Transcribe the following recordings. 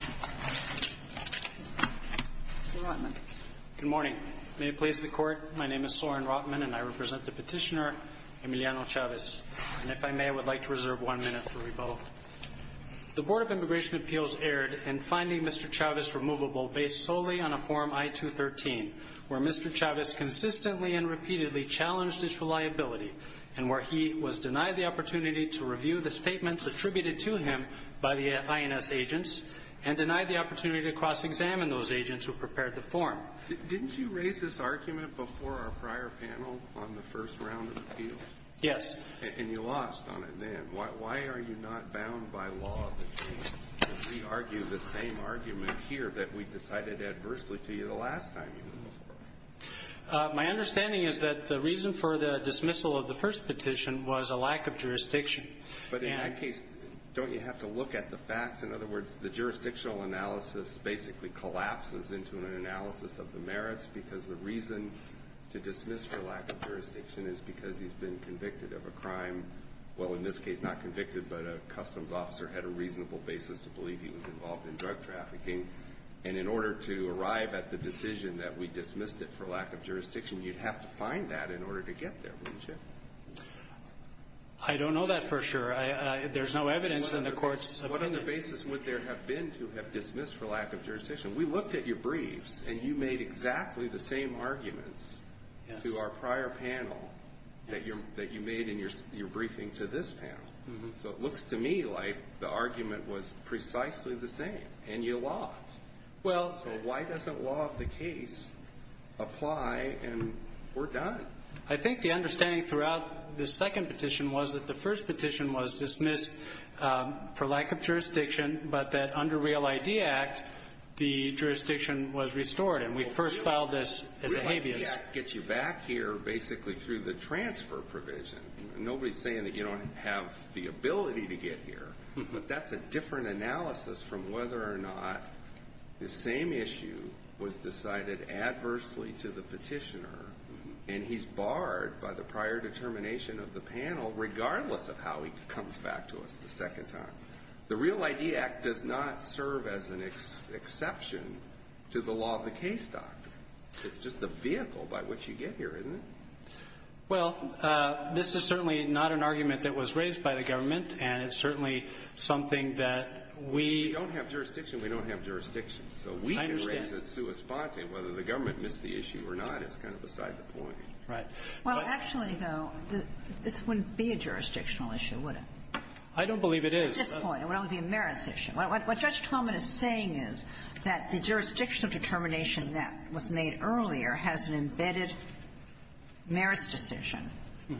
Good morning. May it please the court, my name is Soren Rotman and I represent the petitioner Emiliano Chavez. And if I may, I would like to reserve one minute for rebuttal. The Board of Immigration Appeals erred in finding Mr. Chavez removable based solely on a form I-213 where Mr. Chavez consistently and repeatedly challenged his reliability and where he was denied the opportunity to review the statements attributed to him by the INS agents and denied the opportunity to cross-examine those agents who prepared the form. Didn't you raise this argument before our prior panel on the first round of appeals? Yes. And you lost on it then. Why are you not bound by law to re-argue the same argument here that we decided adversely to you the last time you went before? My understanding is that the reason for the dismissal of the first petition was a lack of jurisdiction. But in that case, don't you have to look at the facts? In other words, the jurisdictional analysis basically collapses into an analysis of the merits because the reason to dismiss for lack of jurisdiction is because he's been convicted of a crime. Well, in this case, not convicted, but a customs officer had a reasonable basis to believe he was involved in drug trafficking. And in order to arrive at the decision that we dismissed it for lack of jurisdiction, you'd have to find that in order to get there, wouldn't you? I don't know that for sure. There's no evidence in the court's opinion. What other basis would there have been to have dismissed for lack of jurisdiction? We looked at your briefs, and you made exactly the same arguments to our prior panel that you made in your briefing to this panel. So it looks to me like the argument was precisely the same, and you lost. So why doesn't law of the case apply, and we're done? I think the understanding throughout this second petition was that the first petition was dismissed for lack of jurisdiction, but that under Real ID Act, the jurisdiction was restored, and we first filed this as a habeas. Real ID Act gets you back here basically through the transfer provision. Nobody's saying that you don't have the ability to get here. But that's a different analysis from whether or not the same issue was decided adversely to the petitioner, and he's barred by the prior determination of the panel regardless of how he comes back to us the second time. The Real ID Act does not serve as an exception to the law of the case doctrine. It's just a vehicle by which you get here, isn't it? Well, this is certainly not an argument that was raised by the government, and it's certainly something that we don't have jurisdiction. We don't have jurisdiction. I understand. So we can raise it sui sponte, and whether the government missed the issue or not is kind of beside the point. Right. Well, actually, though, this wouldn't be a jurisdictional issue, would it? I don't believe it is. At this point, it would only be a merits issue. What Judge Talmadge is saying is that the jurisdictional determination that was made earlier has an embedded merits decision,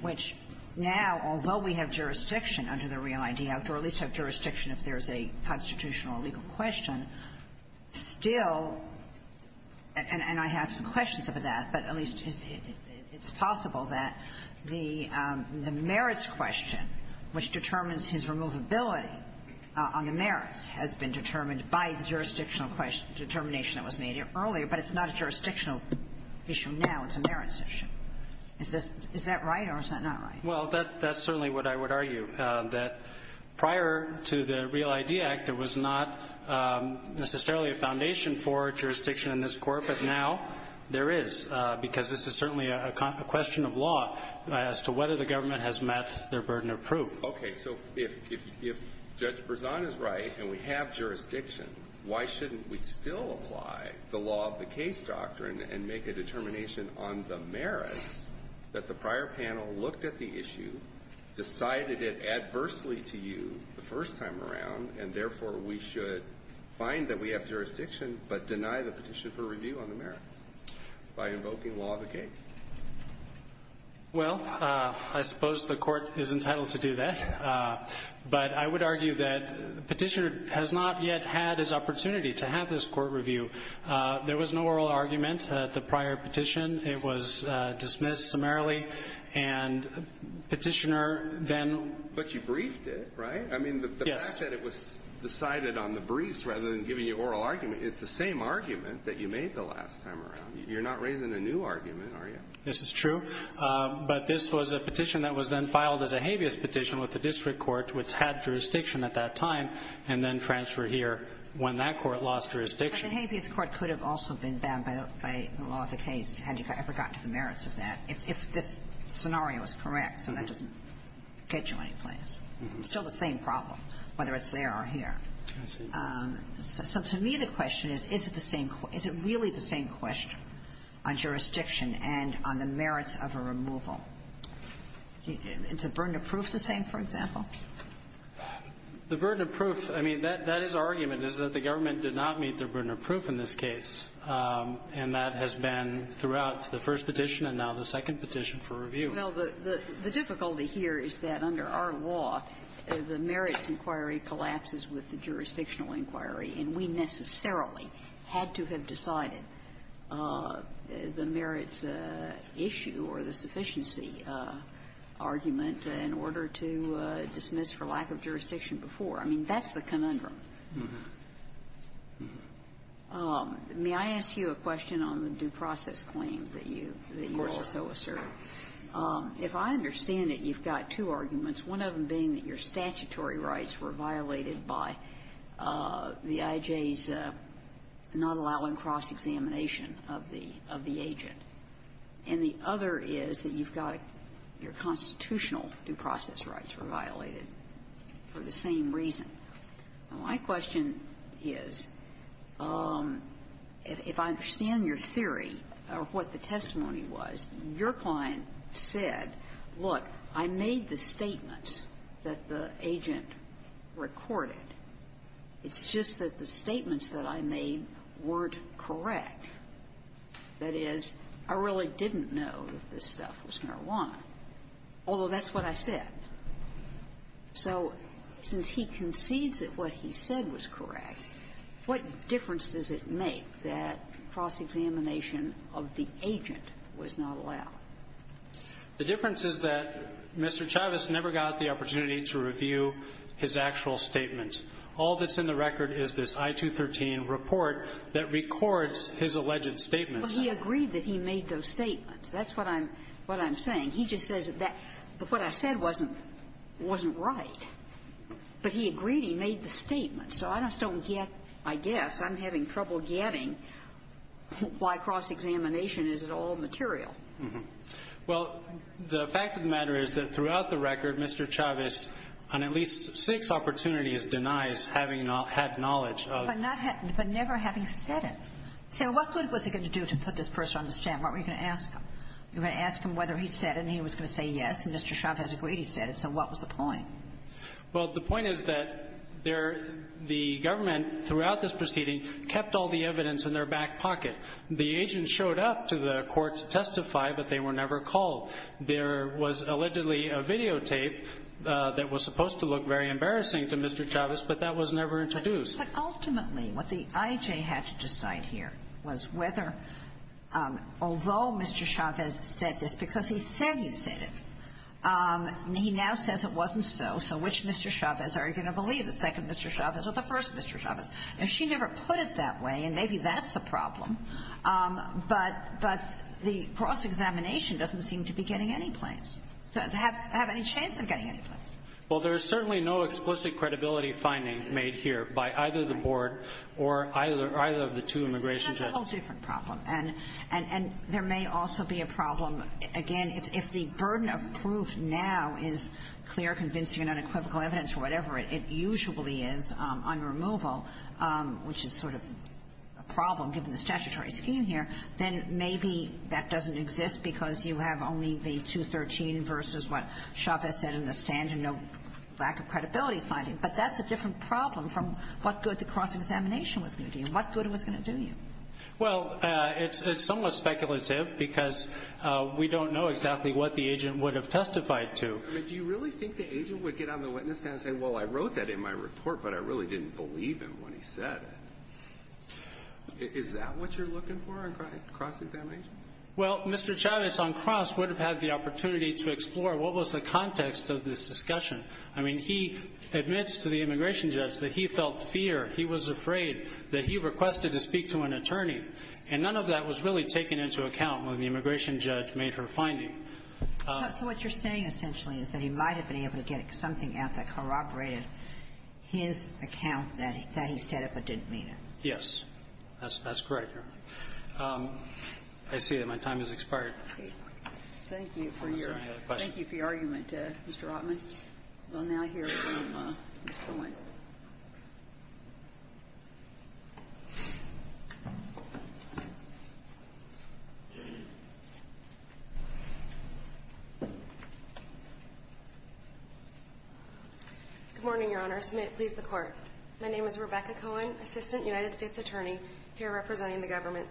which now, although we have jurisdiction under the Real ID Act, or at least have jurisdiction if there's a constitutional or legal question, still, and I have some questions about that, but at least it's possible that the merits question, which determines his removability on the merits, has been determined by the jurisdictional determination that was made earlier, but it's not a jurisdictional issue now, it's a merits issue. Is that right or is that not right? Well, that's certainly what I would argue, that prior to the Real ID Act, there was not necessarily a foundation for jurisdiction in this Court, but now there is, because this is certainly a question of law as to whether the government has met their burden of proof. Okay. So if Judge Berzon is right and we have jurisdiction, why shouldn't we still apply the law of the case doctrine and make a determination on the merits that the prior panel looked at the issue, decided it adversely to you the first time around, and therefore we should find that we have jurisdiction but deny the petition for review on the merits by invoking law of the case? Well, I suppose the Court is entitled to do that, but I would argue that Petitioner has not yet had his opportunity to have this court review. There was no oral argument at the prior petition. It was dismissed summarily, and Petitioner then ---- But you briefed it, right? Yes. I mean, the fact that it was decided on the briefs rather than giving you oral argument, it's the same argument that you made the last time around. You're not raising a new argument, are you? This is true. But this was a petition that was then filed as a habeas petition with the district court, which had jurisdiction at that time, and then transferred here when that court lost jurisdiction. But the habeas court could have also been banned by the law of the case had you ever gotten to the merits of that, if this scenario was correct. So that doesn't get you anyplace. It's still the same problem, whether it's there or here. I see. So to me, the question is, is it the same question? Is it really the same question on jurisdiction and on the merits of a removal? Is the burden of proof the same, for example? The burden of proof, I mean, that is our argument, is that the government did not meet the burden of proof in this case. And that has been throughout the first petition and now the second petition for review. Well, the difficulty here is that under our law, the merits inquiry collapses with the jurisdictional inquiry, and we necessarily had to have decided the merits issue or the sufficiency argument in order to dismiss for lack of jurisdiction before. I mean, that's the conundrum. May I ask you a question on the due process claim that you also asserted? If I understand it, you've got two arguments, one of them being that your statutory rights were violated by the IJ's not allowing cross-examination of the agent, and the other is that you've got your constitutional due process rights were violated for the same reason. My question is, if I understand your theory or what the testimony was, your client said, look, I made the statements that the agent recorded. It's just that the statements that I made weren't correct. That is, I really didn't know that this stuff was marijuana, although that's what I said. So since he concedes that what he said was correct, what difference does it make that cross-examination of the agent was not allowed? The difference is that Mr. Chavez never got the opportunity to review his actual statements. All that's in the record is this I-213 report that records his alleged statements. Well, he agreed that he made those statements. That's what I'm saying. He just says that what I said wasn't right. But he agreed he made the statements. So I just don't get, I guess, I'm having trouble getting why cross-examination is at all material. Well, the fact of the matter is that throughout the record, Mr. Chavez, on at least six opportunities, denies having had knowledge of the case. But never having said it. So what good was he going to do to put this person on the stand? What were you going to ask him? You were going to ask him whether he said it, and he was going to say yes, and Mr. Chavez agreed he said it. So what was the point? Well, the point is that there the government throughout this proceeding kept all the evidence in their back pocket. The agent showed up to the court to testify, but they were never called. There was allegedly a videotape that was supposed to look very embarrassing to Mr. Chavez, but that was never introduced. But ultimately, what the IJ had to decide here was whether, although Mr. Chavez said this because he said he said it, he now says it wasn't so. So which Mr. Chavez are you going to believe, the second Mr. Chavez or the first Mr. Chavez? Now, she never put it that way, and maybe that's a problem, but the cross-examination doesn't seem to be getting any place, to have any chance of getting any place. Well, there's certainly no explicit credibility finding made here by either the board or either of the two immigration judges. It's a whole different problem, and there may also be a problem, again, if the burden of proof now is clear, convincing, and unequivocal evidence or whatever it usually is on removal, which is sort of a problem given the statutory scheme here, then maybe that doesn't exist because you have only the 213 versus what Chavez said in the stand, and no lack of credibility finding. But that's a different problem from what good the cross-examination was going to do and what good it was going to do you. Well, it's somewhat speculative because we don't know exactly what the agent would have testified to. I mean, do you really think the agent would get on the witness stand and say, well, I wrote that in my report, but I really didn't believe him when he said it? Is that what you're looking for on cross-examination? Well, Mr. Chavez on cross would have had the opportunity to explore what was the context of this discussion. I mean, he admits to the immigration judge that he felt fear. He was afraid that he requested to speak to an attorney, and none of that was really taken into account when the immigration judge made her finding. So what you're saying, essentially, is that he might have been able to get something out that corroborated his account, that he said it but didn't mean it. Yes, that's correct, Your Honor. I see that my time has expired. Thank you for your argument, Mr. Rotman. We'll now hear from Ms. Cohen. Good morning, Your Honor. As may it please the Court. My name is Rebecca Cohen, assistant United States attorney, here representing the government.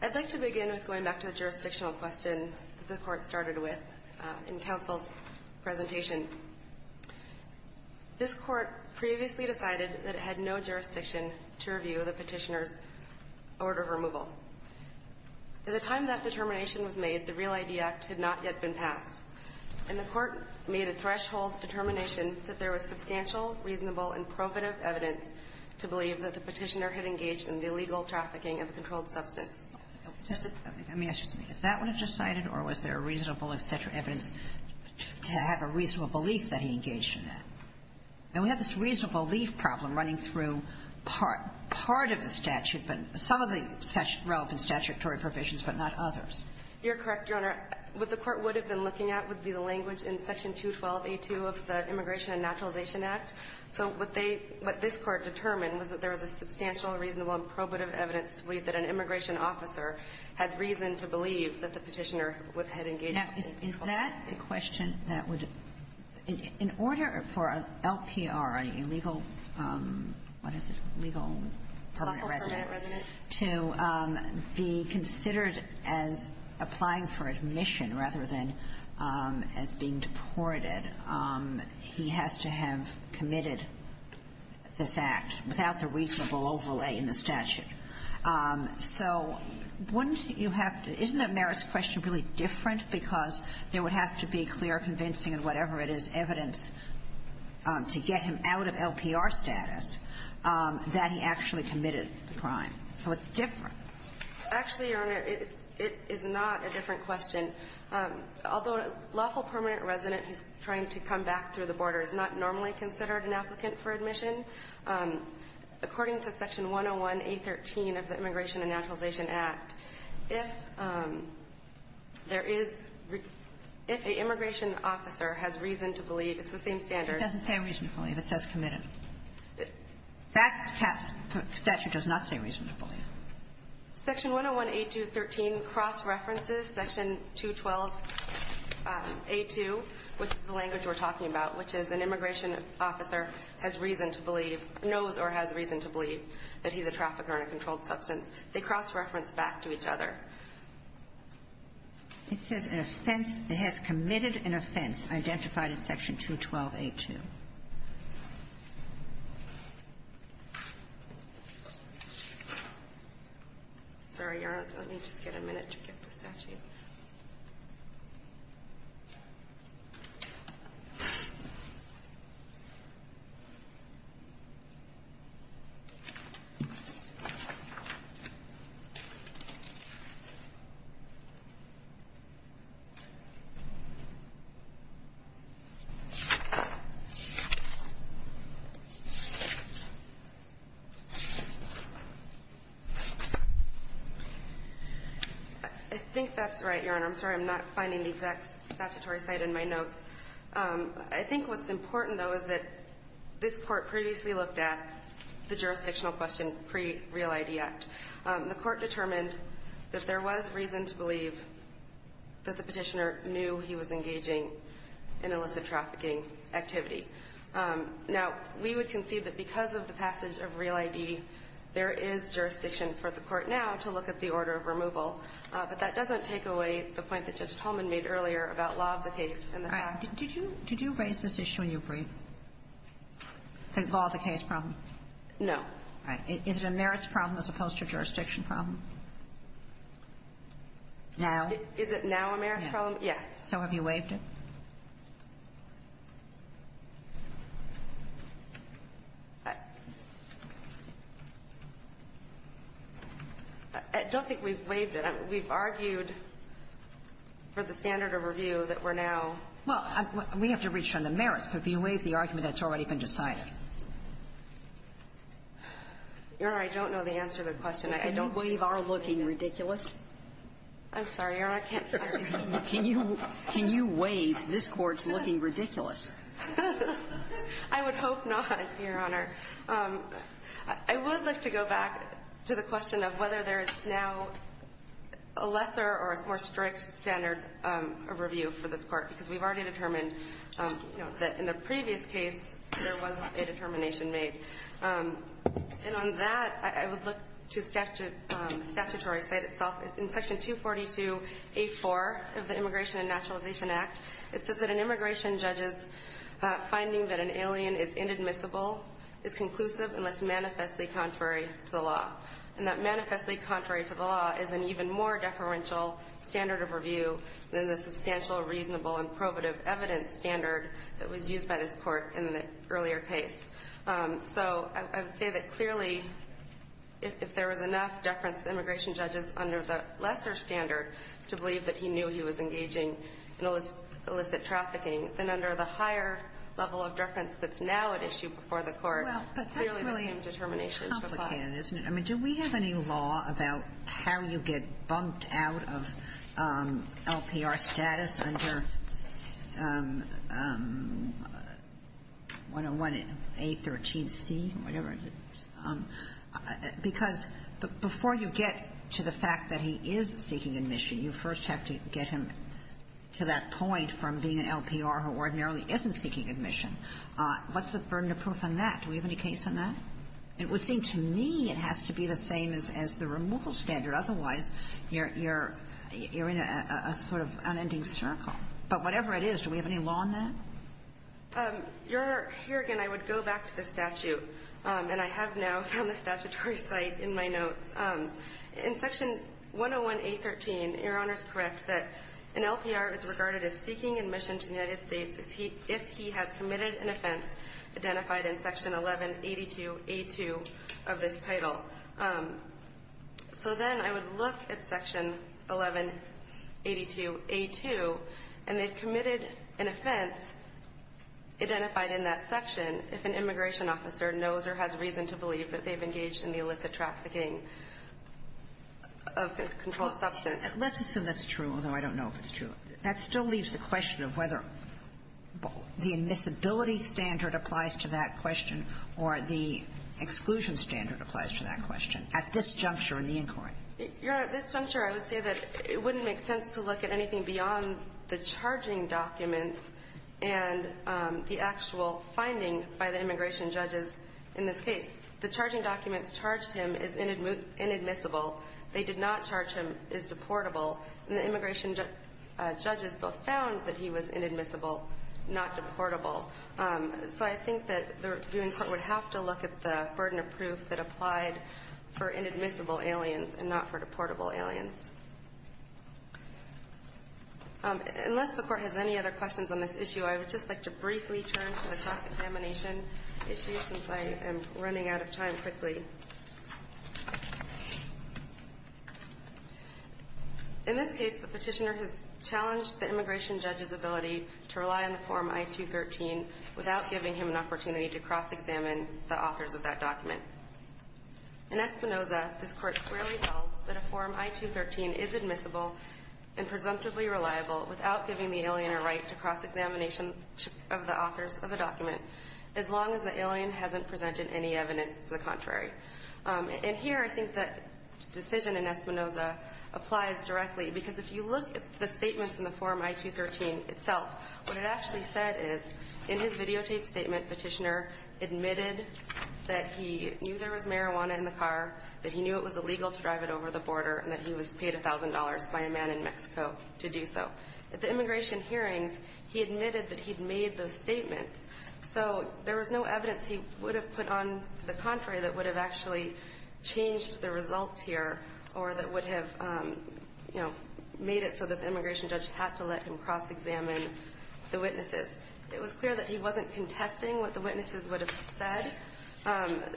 I'd like to begin with going back to the jurisdictional question that the Court started with in counsel's presentation. This Court previously decided that it had no jurisdiction to review the Petitioner's order of removal. By the time that determination was made, the Real ID Act had not yet been passed. And the Court made a threshold determination that there was substantial, reasonable, and probative evidence to believe that the Petitioner had engaged in the illegal trafficking of a controlled substance. Let me ask you something. Is that what it decided, or was there reasonable, et cetera, evidence to have a reasonable belief that he engaged in that? Now, we have this reasonable belief problem running through part of the statute, but some of the relevant statutory provisions, but not others. You're correct, Your Honor. What the Court would have been looking at would be the language in Section 212a2 of the Immigration and Naturalization Act. So what they – what this Court determined was that there was a substantial, reasonable, and probative evidence to believe that an immigration officer had reason to believe that the Petitioner had engaged in illegal trafficking. Now, is that the question that would – in order for an LPR, an illegal – what is it? Legal permanent resident. Political permanent resident. To be considered as applying for admission rather than as being deported, he has to have an LPR status. So wouldn't you have to – isn't that Merit's question really different, because there would have to be clear, convincing, and whatever it is, evidence to get him out of LPR status that he actually committed the crime? So it's different. Actually, Your Honor, it is not a different question. Although a lawful permanent resident who's trying to come back through the border is not normally considered an applicant for admission, according to Section 112a2, Section 101a13 of the Immigration and Naturalization Act, if there is – if an immigration officer has reason to believe – it's the same standard. It doesn't say reasonably. It says committed. That statute does not say reasonably. Section 101a213 cross-references Section 212a2, which is the language we're talking about, which is an immigration officer has reason to believe – knows or has reason to believe that he's a trafficker and a controlled substance. They cross-reference back to each other. It says an offense – it has committed an offense identified in Section 212a2. Sorry, Your Honor. Let me just get a minute to get the statute. I think that's all. That's right, Your Honor. I'm sorry. I'm not finding the exact statutory site in my notes. I think what's important, though, is that this Court previously looked at the jurisdictional question pre-Real ID Act. The Court determined that there was reason to believe that the Petitioner knew he was engaging in illicit trafficking activity. Now, we would concede that because of the passage of Real ID, there is jurisdiction for the Court now to look at the order of removal. But that doesn't take away the point that Judge Tolman made earlier about law of the case and the fact that – All right. Did you raise this issue in your brief? The law of the case problem? No. All right. Is it a merits problem as opposed to a jurisdiction problem? Now? Is it now a merits problem? So have you waived it? I don't think we've waived it. We've argued for the standard of review that we're now – Well, we have to reach on the merits. But if you waive the argument, that's already been decided. Your Honor, I don't know the answer to the question. I don't – Can you waive our looking ridiculous? I'm sorry, Your Honor. I can't hear you. Can you waive this Court's looking ridiculous? I would hope not, Your Honor. I would like to go back to the question of whether there is now a lesser or a more strict standard of review for this Court, because we've already determined that in the previous case there wasn't a determination made. And on that, I would look to statutory side itself. In Section 242.8.4 of the Immigration and Naturalization Act, it says that an immigration judge's finding that an alien is inadmissible is conclusive unless manifestly contrary to the law, and that manifestly contrary to the law is an even more deferential standard of review than the substantial, reasonable, and probative evidence standard that was used by this Court in the earlier case. So I would say that clearly, if there was enough deference to the immigration judges under the lesser standard to believe that he knew he was engaging in illicit trafficking, then under the higher level of deference that's now at issue before the Court, clearly the same determination is required. Well, but that's really complicated, isn't it? I mean, do we have any law about how you get bumped out of LPR status under 101A13C or whatever it is? Because before you get to the fact that he is seeking admission, you first have to get him to that point from being an LPR who ordinarily isn't seeking admission. What's the burden of proof on that? Do we have any case on that? It would seem to me it has to be the same as the removal standard. Otherwise, you're in a sort of unending circle. But whatever it is, do we have any law on that? Your Honor, here again I would go back to the statute. And I have now found the statutory site in my notes. In Section 101A13, Your Honor is correct that an LPR is regarded as seeking admission to the United States if he has committed an offense identified in Section 1182A2 of this title. So then I would look at Section 1182A2, and they've committed an offense identified in that section if an immigration officer knows or has reason to believe that they've engaged in the illicit trafficking of controlled substance. Let's assume that's true, although I don't know if it's true. That still leaves the question of whether the admissibility standard applies to that question at this juncture in the inquiry. Your Honor, at this juncture, I would say that it wouldn't make sense to look at anything beyond the charging documents and the actual finding by the immigration judges in this case. The charging documents charged him as inadmissible. They did not charge him as deportable. And the immigration judges both found that he was inadmissible, not deportable. So I think that the reviewing court would have to look at the burden of proof that applied for inadmissible aliens and not for deportable aliens. Unless the Court has any other questions on this issue, I would just like to briefly turn to the cross-examination issue, since I am running out of time quickly. In this case, the Petitioner has challenged the immigration judge's ability to rely on the Form I-213 without giving him an opportunity to cross-examine the authors of that document. In Espinoza, this Court clearly held that a Form I-213 is admissible and presumptively reliable without giving the alien a right to cross-examination of the authors of the document, as long as the alien hasn't presented any evidence to the contrary. And here, I think that decision in Espinoza applies directly, because if you look at the statements in the Form I-213 itself, what it actually said is, in his videotaped statement, Petitioner admitted that he knew there was marijuana in the car, that he knew it was illegal to drive it over the border, and that he was paid $1,000 by a man in Mexico to do so. At the immigration hearings, he admitted that he'd made those statements. So there was no evidence he would have put on to the contrary that would have actually changed the results here or that would have, you know, made it so that the immigration judge had to let him cross-examine the witnesses. It was clear that he wasn't contesting what the witnesses would have said.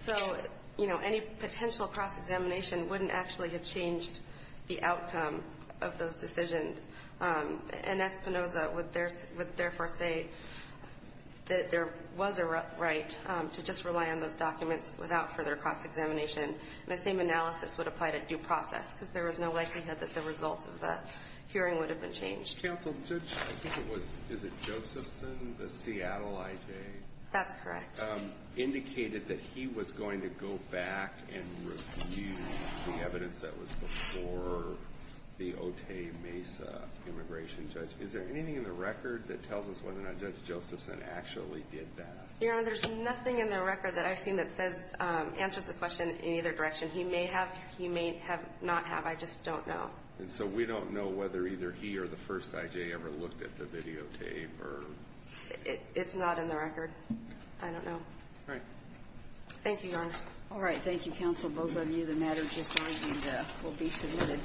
So, you know, any potential cross-examination wouldn't actually have changed the outcome of those decisions. And Espinoza would therefore say that there was a right to just rely on those documents without further cross-examination. And the same analysis would apply to due process, because there was no likelihood that the results of the hearing would have been changed. Judge Counsel, Judge, I think it was, is it Josephson, the Seattle IJ? That's correct. Indicated that he was going to go back and review the evidence that was before the Otay Mesa immigration judge. Is there anything in the record that tells us whether or not Judge Josephson actually did that? Your Honor, there's nothing in the record that I've seen that says, answers the question in either direction. He may have, he may have not have. I just don't know. And so we don't know whether either he or the first IJ ever looked at the videotape. It's not in the record. I don't know. All right. Thank you, Your Honor. All right. Thank you, Counsel. Both of you. The matter just argued will be submitted.